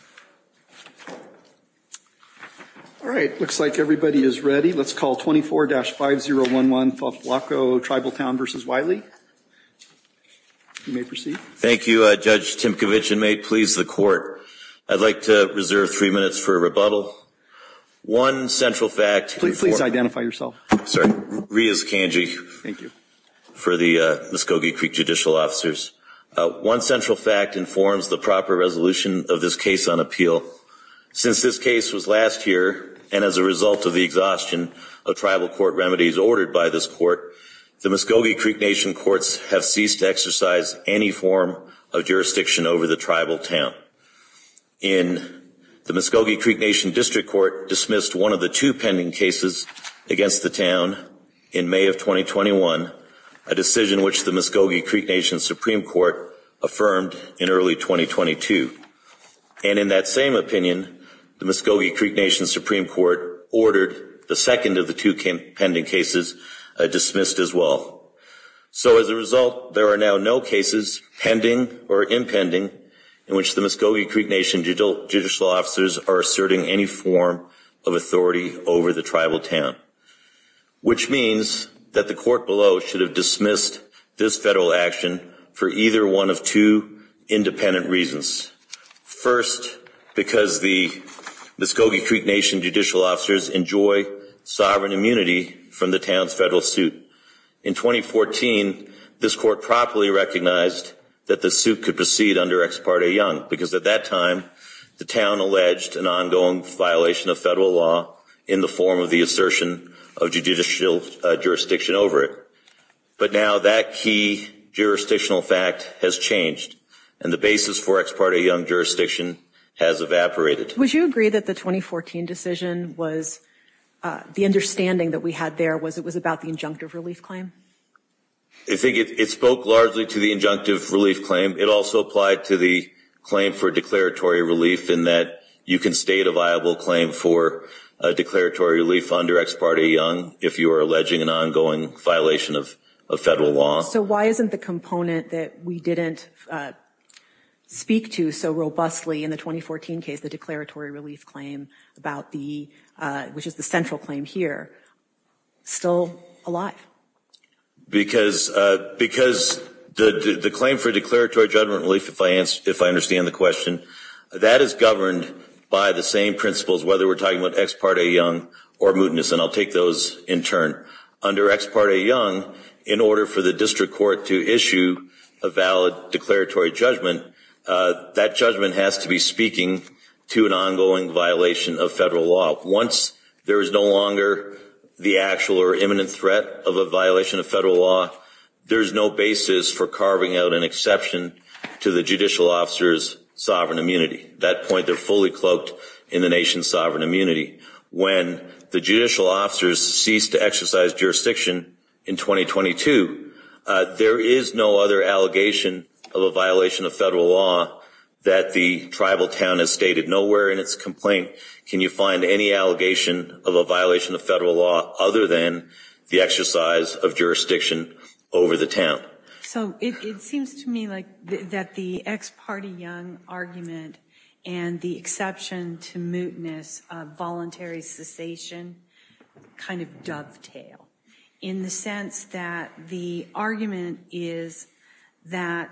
. Thank you. Judge Timkovich and may it please the court, I'd like to reserve three minutes for rebuttal. One central fact. Please identify yourself. Sorry. Riaz Kanji. Thank you. For the Muskogee Creek Judicial Officers. One central fact informs the proper resolution of this case on August 8th. Since this case was last year and as a result of the exhaustion of tribal court remedies ordered by this court, the Muskogee Creek Nation courts have ceased to exercise any form of jurisdiction over the tribal town. In the Muskogee Creek Nation District Court dismissed one of the two pending cases against the town in May of 2021, a decision which the Muskogee Creek Nation Supreme Court affirmed in early 2022. And in that same opinion, the Muskogee Creek Nation Supreme Court ordered the second of the two pending cases dismissed as well. So as a result, there are now no cases pending or impending in which the Muskogee Creek Nation Judicial Officers are asserting any form of authority over the tribal town. Which means that the court below should have dismissed this federal action for either one of two independent reasons. First, because the Muskogee Creek Nation Judicial Officers enjoy sovereign immunity from the town's federal suit. In 2014, this court properly recognized that the suit could proceed under Ex parte Young because at that time, the town alleged an ongoing violation of federal law in the form of the assertion of judicial jurisdiction over it. But now that key jurisdictional fact has changed and the basis for Ex parte Young jurisdiction has evaporated. Would you agree that the 2014 decision was the understanding that we had there was it was about the injunctive relief claim? I think it spoke largely to the injunctive relief claim. It also applied to the claim for declaratory relief in that you can state a viable claim for a declaratory relief under Ex parte Young if you are alleging an ongoing violation of federal law. So why isn't the component that we didn't speak to so robustly in the 2014 case, the declaratory relief claim, which is the central claim here, still alive? Because the claim for declaratory judgment relief, if I understand the question, that is governed by the same principles, whether we're talking about Ex parte Young or mootness, and I'll take those in turn. Under Ex parte Young, in order for the district court to issue a valid declaratory judgment, that judgment has to be speaking to an ongoing violation of federal law. Once there is no longer the actual or imminent threat of a violation of federal law, there is no basis for carving out an exception to the judicial officer's sovereign immunity. At that point, they're fully cloaked in the nation's sovereign immunity. When the judicial officers cease to exercise jurisdiction in 2022, there is no other allegation of a violation of federal law that the tribal town has stated. Nowhere in its complaint can you find any allegation of a violation of federal law other than the exercise of jurisdiction over the town. So it seems to me like that the Ex parte Young argument and the exception to mootness voluntary cessation kind of dovetail in the sense that the argument is that,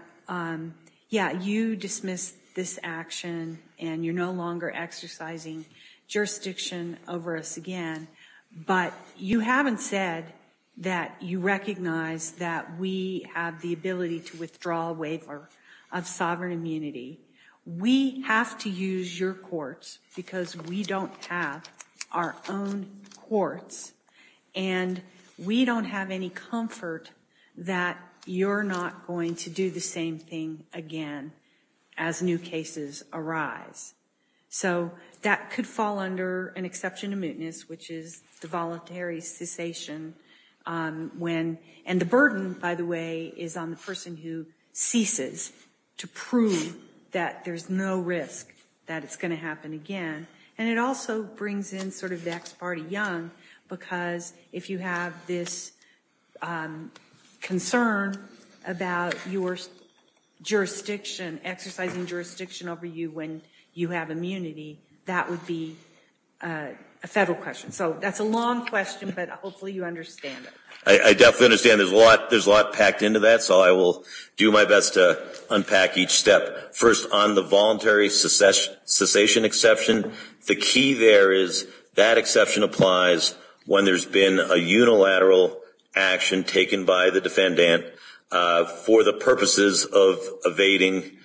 yeah, you dismiss this action and you're no longer exercising jurisdiction over us again. But you haven't said that you recognize that we have the ability to withdraw a waiver of sovereign immunity. We have to use your courts because we don't have our own courts and we don't have any comfort that you're not going to do the same thing again as new cases arise. So that could fall under an exception to mootness, which is the voluntary cessation when and the burden, by the way, is on the person who ceases to prove that there's no risk that it's going to happen again. And it also brings in sort of the Ex parte Young, because if you have this concern about your jurisdiction, exercising jurisdiction over you when you have immunity, that would be a federal question. So that's a long question, but hopefully you understand it. I definitely understand there's a lot packed into that. So I will do my best to unpack each step. First, on the voluntary cessation exception, the key there is that exception applies when there's been a unilateral action taken by the defendant for the purposes of evading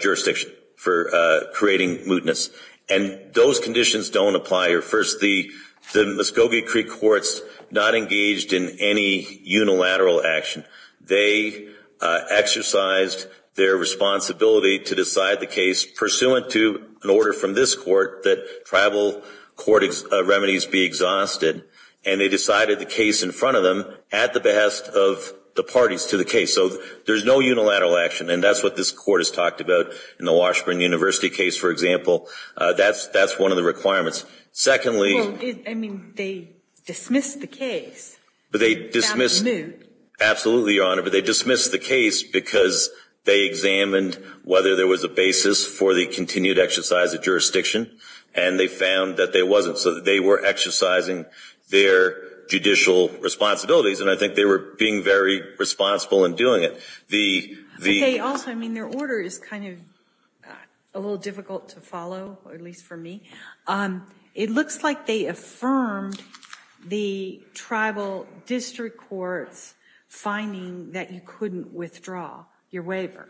jurisdiction, for creating mootness. And those conditions don't apply here. First, the Muscogee Creek courts not engaged in any unilateral action. They exercised their responsibility to decide the case pursuant to an order from this court that tribal court remedies be exhausted. And they decided the case in front of them at the behest of the parties to the case. So there's no unilateral action, and that's what this court has talked about in the Washburn University case, for example. That's one of the requirements. Well, I mean, they dismissed the case. Found it moot. Absolutely, Your Honor, but they dismissed the case because they examined whether there was a basis for the continued exercise of jurisdiction, and they found that there wasn't. So they were exercising their judicial responsibilities, and I think they were being very responsible in doing it. Okay, also, I mean, their order is kind of a little difficult to follow, at least for me. It looks like they affirmed the tribal district court's finding that you couldn't withdraw your waiver.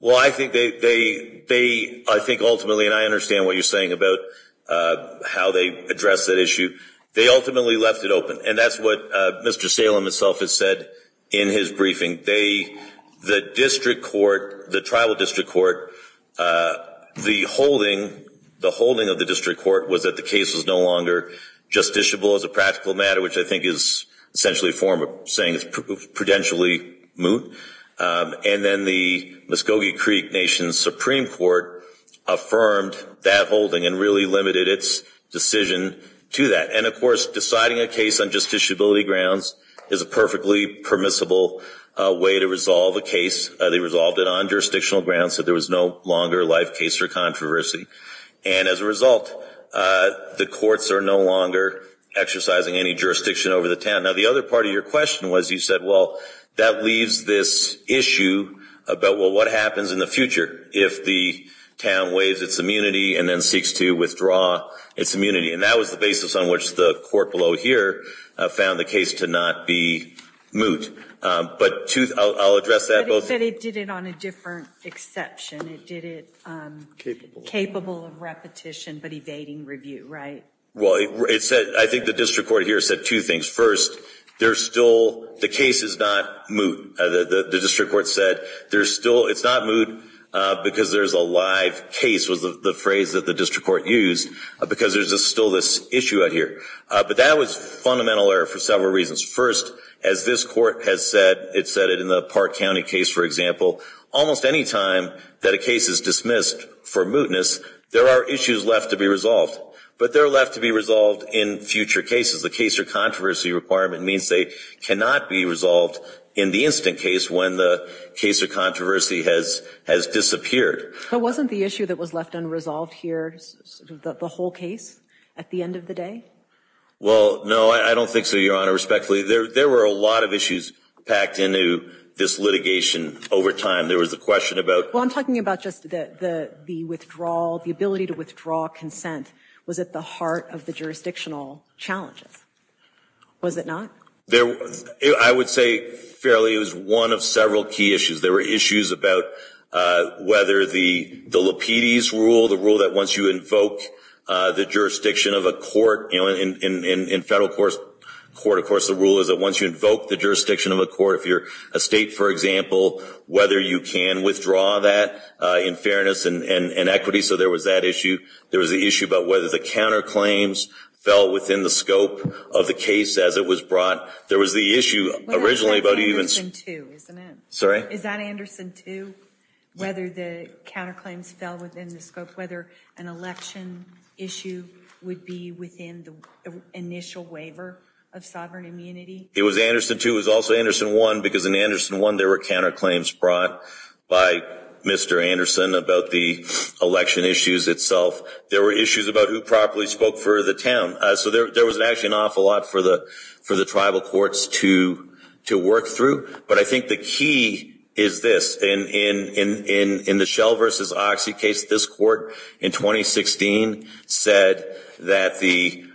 Well, I think they ultimately, and I understand what you're saying about how they addressed that issue. They ultimately left it open, and that's what Mr. Salem himself has said in his briefing. The district court, the tribal district court, the holding of the district court was that the case was no longer justiciable as a practical matter, which I think is essentially a form of saying it's prudentially moot. And then the Muscogee Creek Nation Supreme Court affirmed that holding and really limited its decision to that. And, of course, deciding a case on justiciability grounds is a perfectly permissible way to resolve a case. They resolved it on jurisdictional grounds so there was no longer a life case or controversy. And as a result, the courts are no longer exercising any jurisdiction over the town. Now, the other part of your question was you said, well, that leaves this issue about, well, what happens in the future if the town waives its immunity and then seeks to withdraw its immunity? And that was the basis on which the court below here found the case to not be moot. But I'll address that. But it did it on a different exception. It did it capable of repetition but evading review, right? Well, I think the district court here said two things. First, the case is not moot. The district court said it's not moot because there's a live case was the phrase that the district court used because there's still this issue out here. But that was fundamental error for several reasons. First, as this court has said, it said it in the Park County case, for example, almost any time that a case is dismissed for mootness, there are issues left to be resolved. But they're left to be resolved in future cases. The case or controversy requirement means they cannot be resolved in the instant case when the case or controversy has disappeared. But wasn't the issue that was left unresolved here the whole case at the end of the day? Well, no, I don't think so, Your Honor. Respectfully, there were a lot of issues packed into this litigation over time. There was a question about – No, I'm talking about just the withdrawal, the ability to withdraw consent was at the heart of the jurisdictional challenges. Was it not? I would say fairly it was one of several key issues. There were issues about whether the Lapides rule, the rule that once you invoke the jurisdiction of a court, in federal court, of course, the rule is that once you invoke the jurisdiction of a court, if you're a state, for example, whether you can withdraw that in fairness and equity. So there was that issue. There was the issue about whether the counterclaims fell within the scope of the case as it was brought. There was the issue originally about even – What about Anderson 2, isn't it? Sorry? Is that Anderson 2, whether the counterclaims fell within the scope, whether an election issue would be within the initial waiver of sovereign immunity? It was Anderson 2. It was also Anderson 1 because in Anderson 1 there were counterclaims brought by Mr. Anderson about the election issues itself. There were issues about who properly spoke for the town. So there was actually an awful lot for the tribal courts to work through. But I think the key is this. In the Schell v. Oxy case, this court in 2016 said that the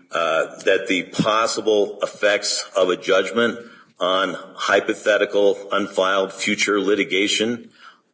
possible effects of a judgment on hypothetical, unfiled future litigation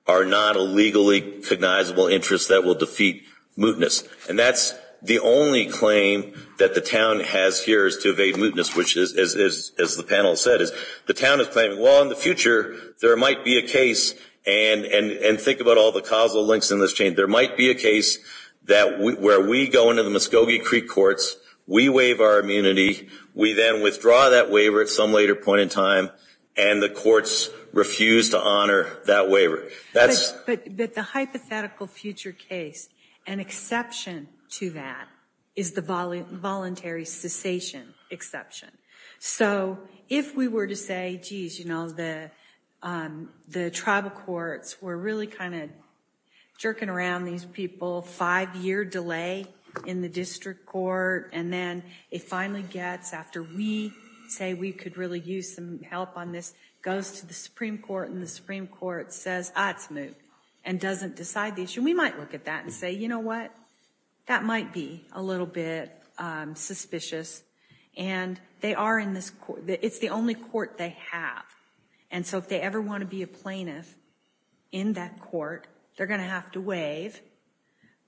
are not a legally cognizable interest that will defeat mootness. And that's the only claim that the town has here is to evade mootness, which is, as the panel said, the town is claiming, well, in the future there might be a case, and think about all the causal links in this change, there might be a case where we go into the Muscogee Creek courts, we waive our immunity, we then withdraw that waiver at some later point in time, and the courts refuse to honor that waiver. But the hypothetical future case, an exception to that is the voluntary cessation exception. So if we were to say, geez, you know, the tribal courts were really kind of jerking around these people, five-year delay in the district court, and then it finally gets after we say we could really use some help on this, goes to the Supreme Court, and the Supreme Court says, ah, it's moot, and doesn't decide the issue, we might look at that and say, you know what, that might be a little bit suspicious. And it's the only court they have. And so if they ever want to be a plaintiff in that court, they're going to have to waive.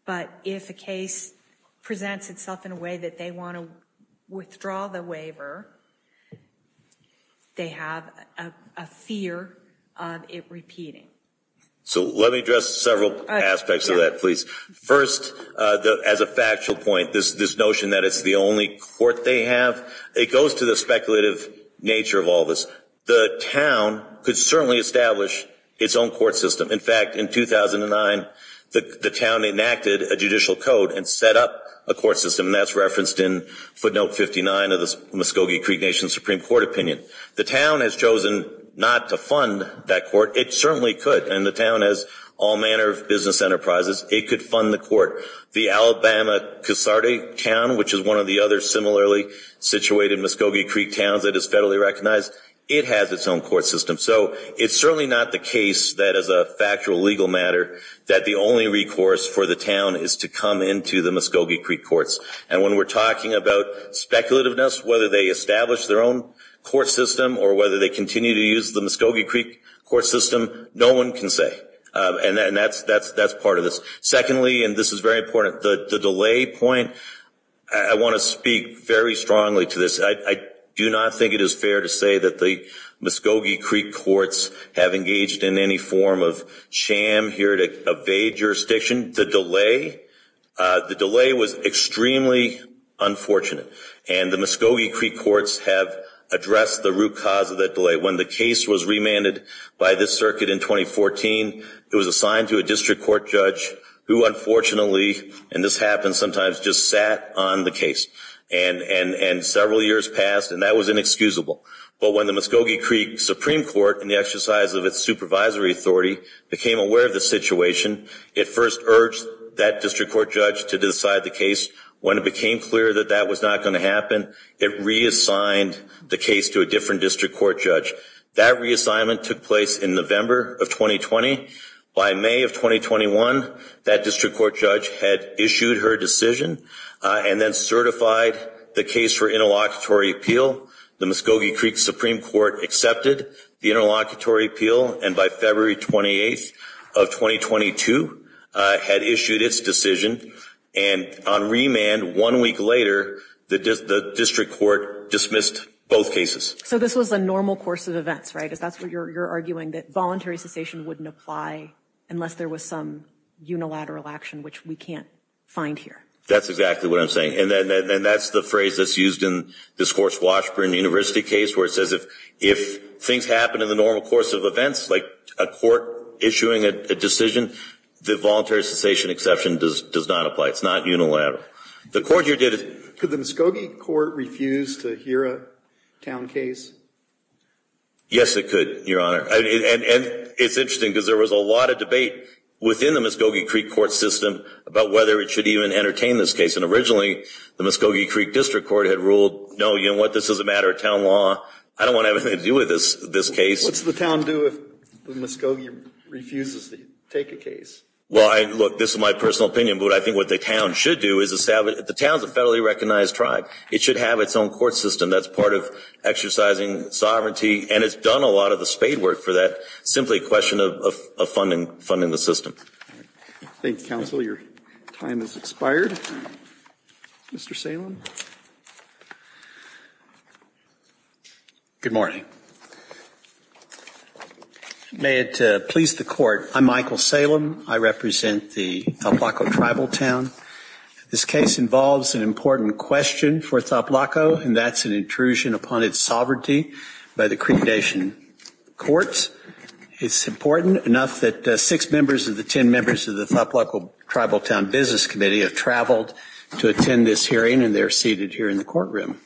But if a case presents itself in a way that they want to withdraw the waiver, they have a fear of it repeating. So let me address several aspects of that, please. First, as a factual point, this notion that it's the only court they have, it goes to the speculative nature of all this. The town could certainly establish its own court system. In fact, in 2009, the town enacted a judicial code and set up a court system, and that's referenced in footnote 59 of the Muscogee Creek Nation Supreme Court opinion. The town has chosen not to fund that court. It certainly could, and the town has all manner of business enterprises. It could fund the court. The Alabama Casarde town, which is one of the other similarly situated Muscogee Creek towns that is federally recognized, it has its own court system. So it's certainly not the case that as a factual legal matter that the only recourse for the town is to come into the Muscogee Creek courts. And when we're talking about speculativeness, whether they establish their own court system or whether they continue to use the Muscogee Creek court system, no one can say. And that's part of this. Secondly, and this is very important, the delay point, I want to speak very strongly to this. I do not think it is fair to say that the Muscogee Creek courts have engaged in any form of sham here to evade jurisdiction. The delay was extremely unfortunate, and the Muscogee Creek courts have addressed the root cause of that delay. When the case was remanded by this circuit in 2014, it was assigned to a district court judge who unfortunately, and this happens sometimes, just sat on the case. And several years passed, and that was inexcusable. But when the Muscogee Creek Supreme Court, in the exercise of its supervisory authority, became aware of the situation, it first urged that district court judge to decide the case. When it became clear that that was not going to happen, it reassigned the case to a different district court judge. That reassignment took place in November of 2020. By May of 2021, that district court judge had issued her decision and then certified the case for interlocutory appeal. The Muscogee Creek Supreme Court accepted the interlocutory appeal, and by February 28th of 2022, had issued its decision. And on remand, one week later, the district court dismissed both cases. So this was a normal course of events, right? Because that's what you're arguing, that voluntary cessation wouldn't apply unless there was some unilateral action, which we can't find here. That's exactly what I'm saying. And that's the phrase that's used in this course Washburn University case, where it says if things happen in the normal course of events, like a court issuing a decision, the voluntary cessation exception does not apply. It's not unilateral. The court here did it. Could the Muscogee Court refuse to hear a town case? Yes, it could, Your Honor. And it's interesting, because there was a lot of debate within the Muscogee Creek Court system about whether it should even entertain this case. And originally, the Muscogee Creek District Court had ruled, no, you know what, this is a matter of town law. I don't want to have anything to do with this case. What's the town do if the Muscogee refuses to take a case? Well, look, this is my personal opinion, but I think what the town should do is the town is a federally recognized tribe. It should have its own court system that's part of exercising sovereignty. And it's done a lot of the spade work for that. Simply a question of funding the system. Thank you, counsel. Your time has expired. Mr. Salem? Good morning. May it please the Court, I'm Michael Salem. I represent the Toplaco tribal town. This case involves an important question for Toplaco, and that's an intrusion upon its sovereignty by the Creek Nation courts. It's important enough that six members of the ten members of the Toplaco tribal town business committee have traveled to attend this hearing, and they're seated here in the courtroom.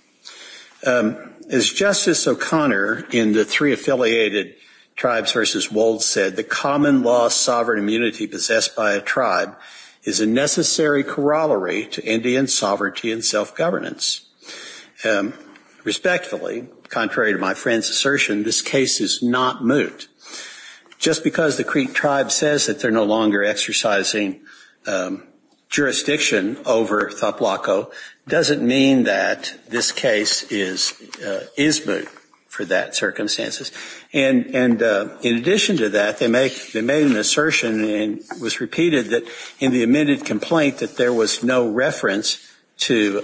As Justice O'Connor in the three affiliated tribes versus Wold said, the common law sovereign immunity possessed by a tribe is a necessary corollary to Indian sovereignty and self-governance. Respectfully, contrary to my friend's assertion, this case is not moot. Just because the Creek tribe says that they're no longer exercising jurisdiction over Toplaco doesn't mean that this case is moot for that circumstances. And in addition to that, they made an assertion and it was repeated that in the amended complaint that there was no reference to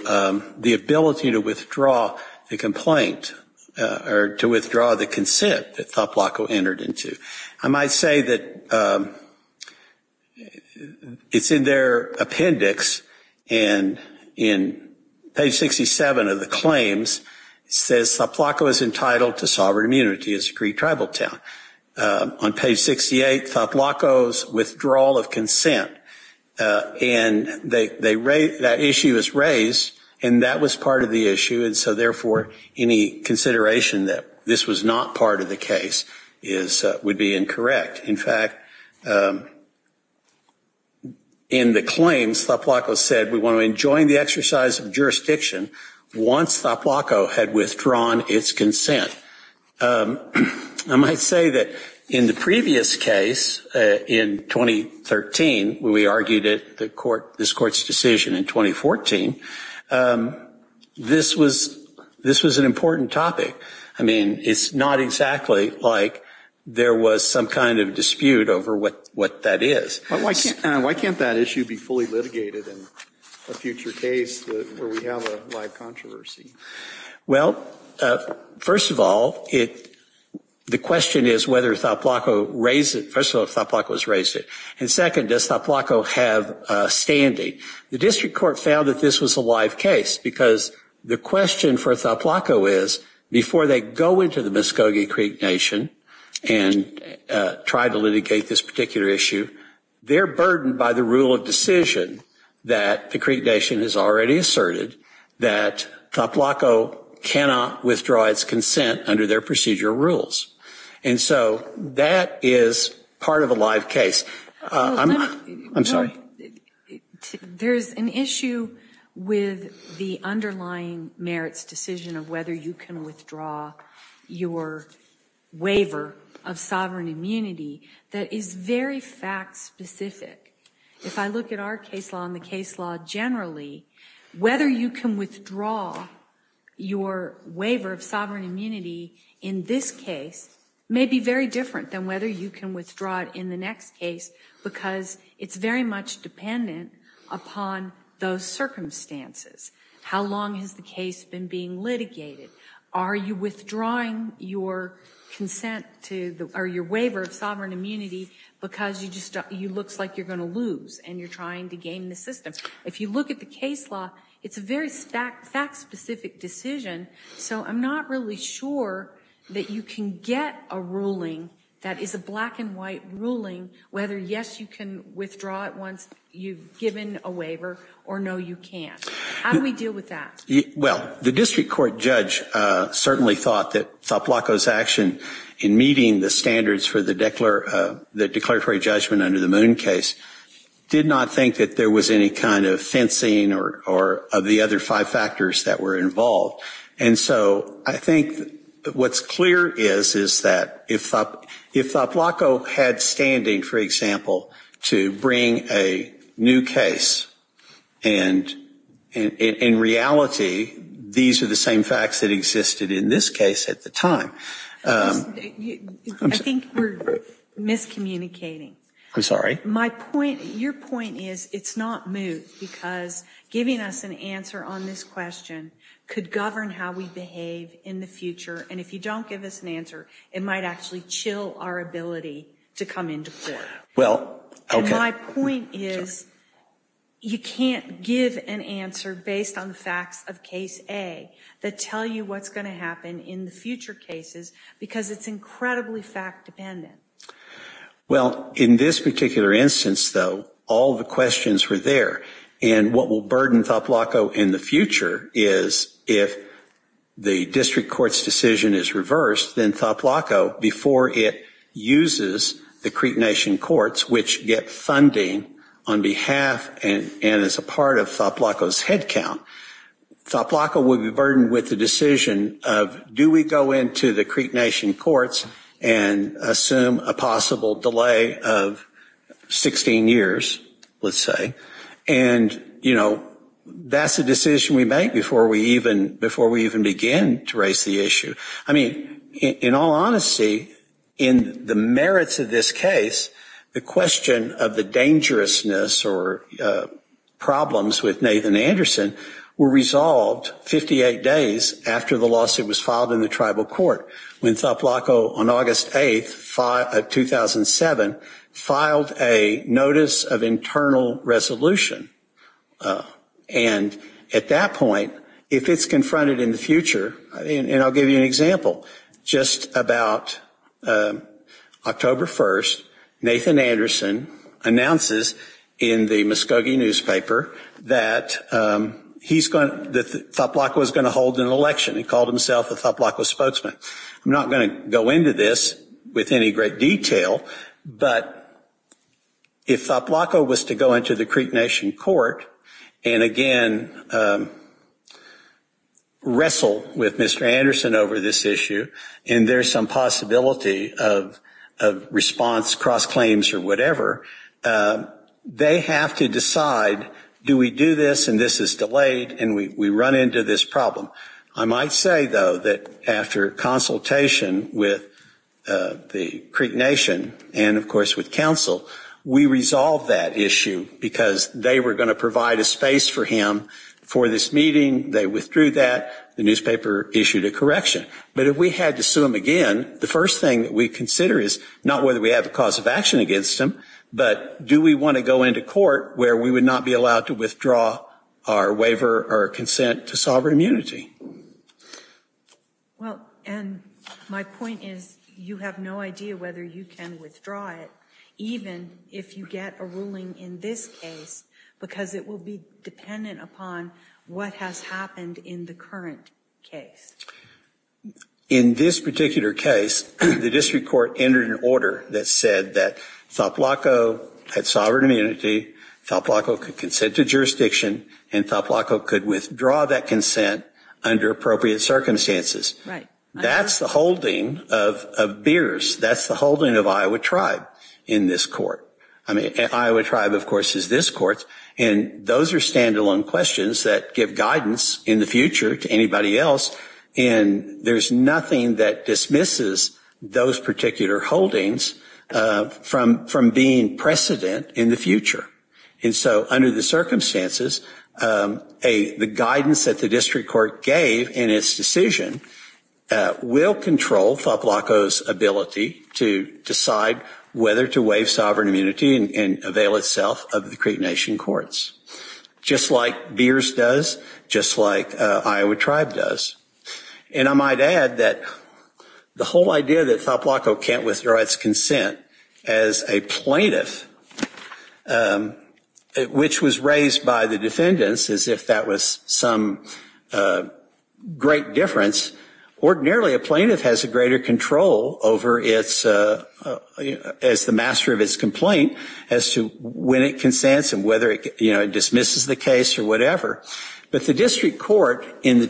the ability to withdraw the complaint or to withdraw the consent that Toplaco entered into. I might say that it's in their appendix and in page 67 of the claims, it says Toplaco is entitled to sovereign immunity as a Creek tribal town. On page 68, Toplaco's withdrawal of consent, and that issue is raised, and that was part of the issue, and so therefore any consideration that this was not part of the case would be incorrect. In fact, in the claims, Toplaco said we want to enjoin the exercise of jurisdiction once Toplaco had withdrawn its consent. I might say that in the previous case, in 2013, when we argued this court's decision in 2014, this was an important topic. I mean, it's not exactly like there was some kind of dispute over what that is. Why can't that issue be fully litigated in a future case where we have a live controversy? Well, first of all, the question is whether Toplaco raised it. First of all, if Toplaco has raised it. And second, does Toplaco have standing? The district court found that this was a live case because the question for Toplaco is, before they go into the Muscogee Creek Nation and try to litigate this particular issue, they're burdened by the rule of decision that the Creek Nation has already asserted, that Toplaco cannot withdraw its consent under their procedure rules. And so that is part of a live case. I'm sorry. There is an issue with the underlying merits decision of whether you can withdraw your waiver of sovereign immunity that is very fact specific. If I look at our case law and the case law generally, whether you can withdraw your waiver of sovereign immunity in this case may be very different than whether you can withdraw it in the next case because it's very much dependent upon those circumstances. How long has the case been being litigated? Are you withdrawing your waiver of sovereign immunity because it looks like you're going to lose and you're trying to gain the system? Because if you look at the case law, it's a very fact specific decision. So I'm not really sure that you can get a ruling that is a black and white ruling whether, yes, you can withdraw it once you've given a waiver or no, you can't. How do we deal with that? Well, the district court judge certainly thought that Toplaco's action in meeting the standards for the declaratory judgment under the Moon case did not think that there was any kind of fencing or the other five factors that were involved. And so I think what's clear is that if Toplaco had standing, for example, to bring a new case, and in reality these are the same facts that existed in this case at the time. I think we're miscommunicating. I'm sorry. My point, your point is it's not moot because giving us an answer on this question could govern how we behave in the future. And if you don't give us an answer, it might actually chill our ability to come into court. Well, OK. My point is you can't give an answer based on the facts of case A that tell you what's going to happen in the future cases because it's incredibly fact dependent. Well, in this particular instance, though, all the questions were there. And what will burden Toplaco in the future is if the district court's decision is reversed, then Toplaco, before it uses the Creek Nation courts, which get funding on behalf and as a part of Toplaco's headcount, Toplaco would be burdened with the decision of do we go into the Creek Nation courts and assume a possible delay of 16 years, let's say. And, you know, that's a decision we make before we even begin to raise the issue. I mean, in all honesty, in the merits of this case, the question of the dangerousness or problems with Nathan Anderson were resolved 58 days after the lawsuit was filed in the tribal court. When Toplaco on August 8, 2007, filed a notice of internal resolution. And at that point, if it's confronted in the future, and I'll give you an example. Just about October 1st, Nathan Anderson announces in the Muskogee newspaper that he's going to, that Toplaco is going to hold an election. He called himself a Toplaco spokesman. I'm not going to go into this with any great detail, but if Toplaco was to go into the Creek Nation court and, again, wrestle with Mr. Anderson over this issue, and there's some possibility of response, cross-claims or whatever, they have to decide do we do this and this is delayed and we run into this problem. I might say, though, that after consultation with the Creek Nation and, of course, with counsel, we resolved that issue because they were going to provide a space for him for this meeting. They withdrew that. The newspaper issued a correction. But if we had to sue him again, the first thing that we consider is not whether we have a cause of action against him, but do we want to go into court where we would not be allowed to withdraw our waiver or consent to sovereign immunity? Well, and my point is you have no idea whether you can withdraw it, even if you get a ruling in this case, because it will be dependent upon what has happened in the current case. In this particular case, the district court entered an order that said that Toplaco had sovereign immunity, Toplaco could consent to jurisdiction, and Toplaco could withdraw that consent under appropriate circumstances. Right. That's the holding of Beers. That's the holding of Iowa Tribe in this court. I mean, Iowa Tribe, of course, is this court, and those are standalone questions that give guidance in the future to anybody else. And there's nothing that dismisses those particular holdings from being precedent in the future. And so under the circumstances, the guidance that the district court gave in its decision will control Toplaco's ability to decide whether to waive sovereign immunity and avail itself of the Creek Nation courts, just like Beers does, just like Iowa Tribe does. And I might add that the whole idea that Toplaco can't withdraw its consent as a plaintiff, which was raised by the defendants as if that was some great difference, ordinarily a plaintiff has a greater control over its, as the master of its complaint, as to when it consents and whether it dismisses the case or whatever. But the district court in the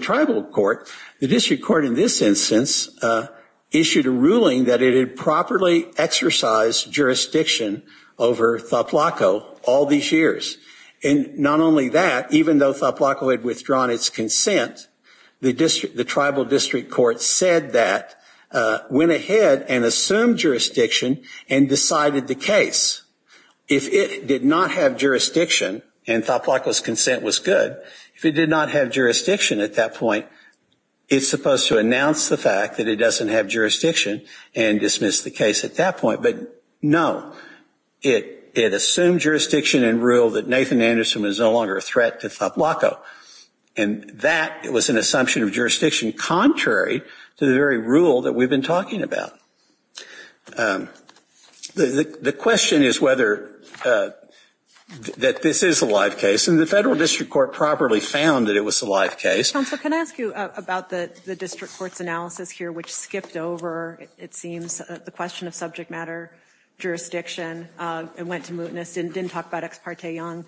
tribal court, the district court in this instance issued a ruling that it had properly exercised jurisdiction over Toplaco all these years. And not only that, even though Toplaco had withdrawn its consent, the tribal district court said that, went ahead and assumed jurisdiction and decided the case. If it did not have jurisdiction and Toplaco's consent was good, if it did not have jurisdiction at that point, it's supposed to announce the fact that it doesn't have jurisdiction and dismiss the case at that point. But no, it assumed jurisdiction and ruled that Nathan Anderson was no longer a threat to Toplaco. And that was an assumption of jurisdiction contrary to the very rule that we've been talking about. The question is whether, that this is a live case. And the federal district court properly found that it was a live case. Counsel, can I ask you about the district court's analysis here, which skipped over, it seems, the question of subject matter, jurisdiction, and went to mootness, and didn't talk about Ex parte Young.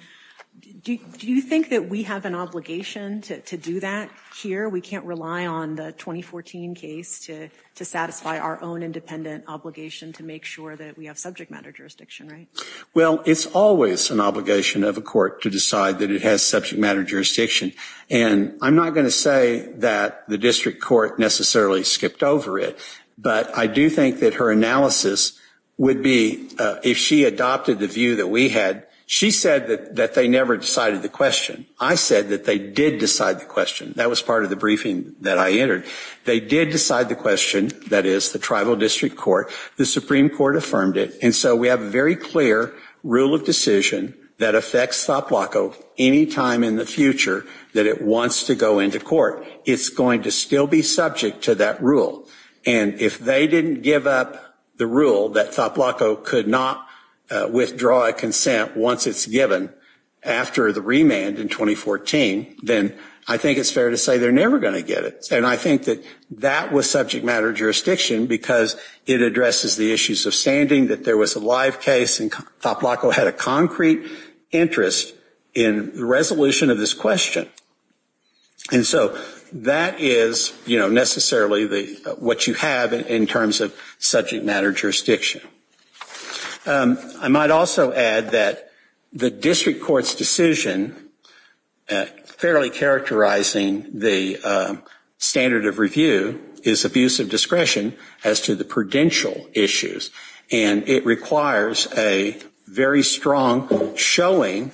Do you think that we have an obligation to do that here? We can't rely on the 2014 case to satisfy our own independent obligation to make sure that we have subject matter jurisdiction, right? Well, it's always an obligation of a court to decide that it has subject matter jurisdiction. And I'm not going to say that the district court necessarily skipped over it. But I do think that her analysis would be, if she adopted the view that we had, she said that they never decided the question. I said that they did decide the question. That was part of the briefing that I entered. They did decide the question, that is, the tribal district court. The Supreme Court affirmed it. And so we have a very clear rule of decision that affects Toplaco any time in the future that it wants to go into court. It's going to still be subject to that rule. And if they didn't give up the rule that Toplaco could not withdraw a consent once it's given after the remand in 2014, then I think it's fair to say they're never going to get it. And I think that that was subject matter jurisdiction because it addresses the issues of standing, that there was a live case, and Toplaco had a concrete interest in the resolution of this question. And so that is necessarily what you have in terms of subject matter jurisdiction. I might also add that the district court's decision, fairly characterizing the standard of review, is abuse of discretion as to the prudential issues. And it requires a very strong showing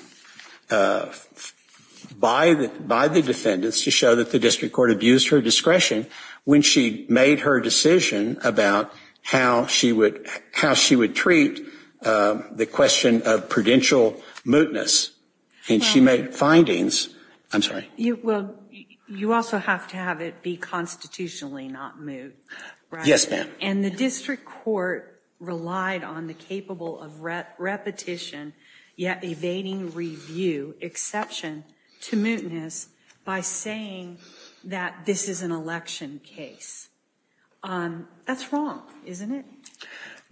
by the defendants to show that the district court abused her discretion when she made her decision about how she would treat the question of prudential mootness. And she made findings. I'm sorry. Well, you also have to have it be constitutionally not moot. Yes, ma'am. And the district court relied on the capable of repetition yet evading review exception to mootness by saying that this is an election case. That's wrong, isn't it?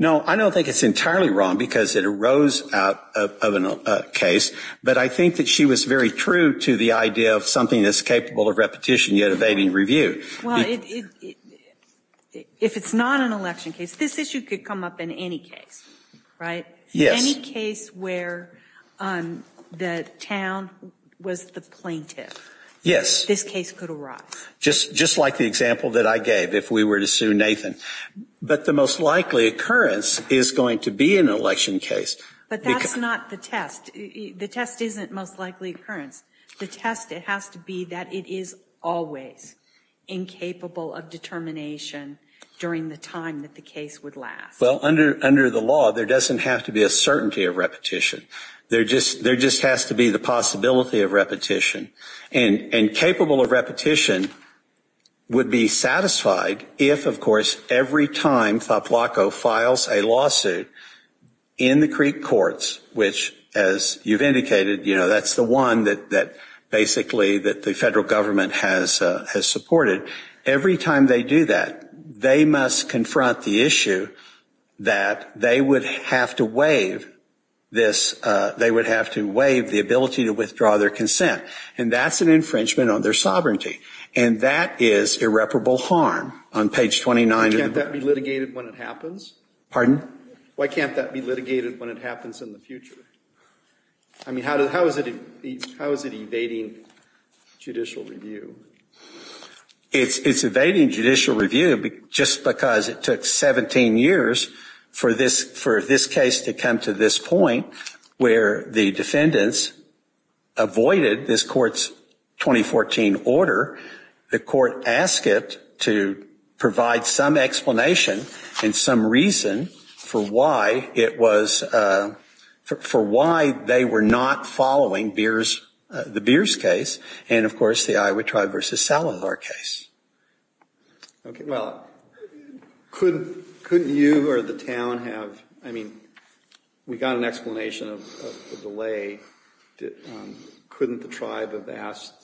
No, I don't think it's entirely wrong because it arose out of a case, but I think that she was very true to the idea of something that's capable of repetition yet evading review. Well, if it's not an election case, this issue could come up in any case, right? Yes. Any case where the town was the plaintiff. Yes. This case could arise. Just like the example that I gave, if we were to sue Nathan. But the most likely occurrence is going to be an election case. But that's not the test. The test isn't most likely occurrence. The test has to be that it is always incapable of determination during the time that the case would last. Well, under the law, there doesn't have to be a certainty of repetition. There just has to be the possibility of repetition. And capable of repetition would be satisfied if, of course, every time FAPLACO files a lawsuit in the Creek courts, which, as you've indicated, that's the one that basically the federal government has supported. Every time they do that, they must confront the issue that they would have to waive this. They would have to waive the ability to withdraw their consent. And that's an infringement on their sovereignty. And that is irreparable harm. On page 29. Can't that be litigated when it happens? Pardon? Why can't that be litigated when it happens in the future? I mean, how is it evading judicial review? It's evading judicial review just because it took 17 years for this case to come to this point where the defendants avoided this court's 2014 order. The court asked it to provide some explanation and some reason for why they were not following the Beers case and, of course, the Iowa Tribe v. Salazar case. Okay, well, couldn't you or the town have, I mean, we got an explanation of the delay. Couldn't the tribe have asked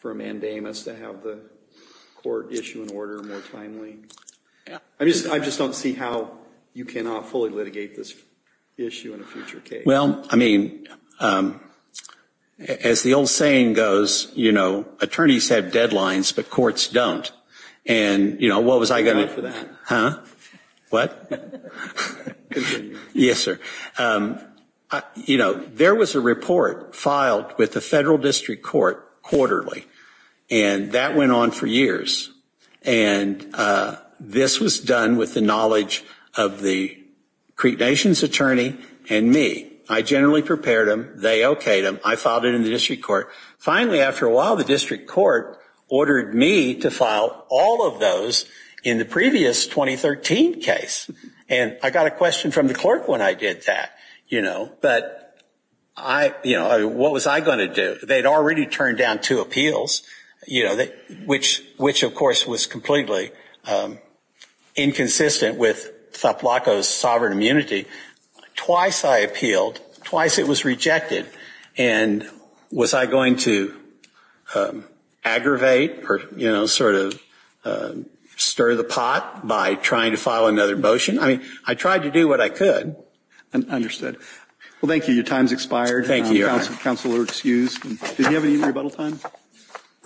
for a mandamus to have the court issue an order more timely? I just don't see how you cannot fully litigate this issue in a future case. Well, I mean, as the old saying goes, you know, attorneys have deadlines, but courts don't. And, you know, what was I going to do? Huh? What? Yes, sir. You know, there was a report filed with the federal district court quarterly, and that went on for years. And this was done with the knowledge of the Creep Nation's attorney and me. I generally prepared them. They okayed them. I filed it in the district court. Finally, after a while, the district court ordered me to file all of those in the previous 2013 case. And I got a question from the clerk when I did that, you know. But, you know, what was I going to do? They had already turned down two appeals, you know, which, of course, was completely inconsistent with Tlapalco's sovereign immunity. Twice I appealed. Twice it was rejected. And was I going to aggravate or, you know, sort of stir the pot by trying to file another motion? I mean, I tried to do what I could. Understood. Well, thank you. Your time has expired. Thank you, Your Honor. Counsel are excused. Do we have any rebuttal time?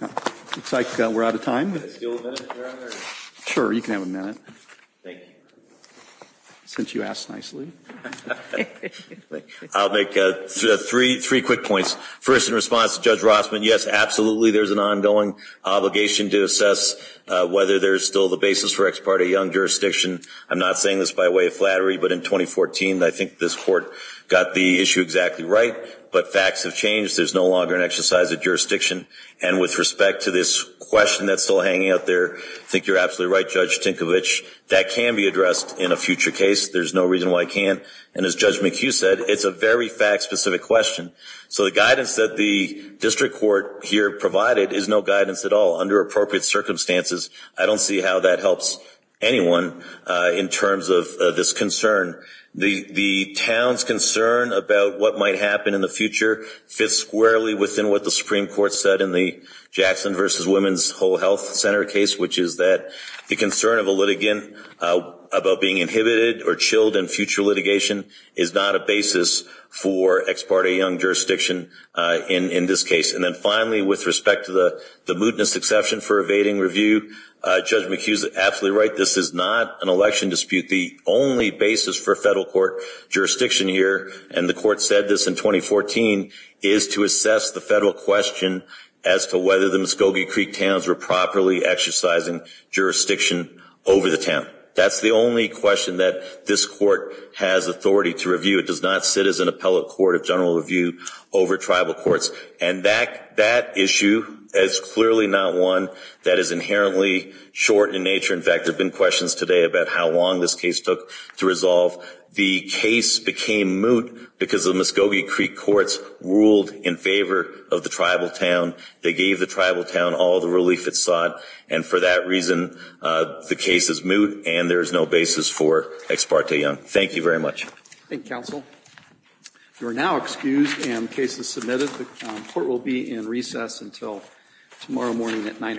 Looks like we're out of time. Can I steal a minute, Your Honor? Sure. You can have a minute. Thank you. Since you asked nicely. I'll make three quick points. First, in response to Judge Rossman, yes, absolutely, there's an ongoing obligation to assess whether there's still the basis for ex parte young jurisdiction. I'm not saying this by way of flattery. But in 2014, I think this Court got the issue exactly right. But facts have changed. There's no longer an exercise of jurisdiction. And with respect to this question that's still hanging out there, I think you're absolutely right, Judge Tinkovich, that can be addressed in a future case. There's no reason why it can't. And as Judge McHugh said, it's a very fact-specific question. So the guidance that the district court here provided is no guidance at all under appropriate circumstances. I don't see how that helps anyone in terms of this concern. The town's concern about what might happen in the future fits squarely within what the Supreme Court said in the Jackson v. Women's Whole Health Center case, which is that the concern of a litigant about being inhibited or chilled in future litigation is not a basis for ex parte young jurisdiction in this case. And then finally, with respect to the mootness exception for evading review, Judge McHugh is absolutely right. This is not an election dispute. The only basis for federal court jurisdiction here, and the Court said this in 2014, is to assess the federal question as to whether the Muscogee Creek towns were properly exercising jurisdiction over the town. That's the only question that this Court has authority to review. It does not sit as an appellate court of general review over tribal courts. And that issue is clearly not one that is inherently short in nature. In fact, there have been questions today about how long this case took to resolve. The case became moot because the Muscogee Creek courts ruled in favor of the tribal town. They gave the tribal town all the relief it sought. And for that reason, the case is moot, and there is no basis for ex parte young. Thank you very much. Thank you, counsel. You are now excused, and the case is submitted. The Court will be in recess until tomorrow morning at 9 o'clock.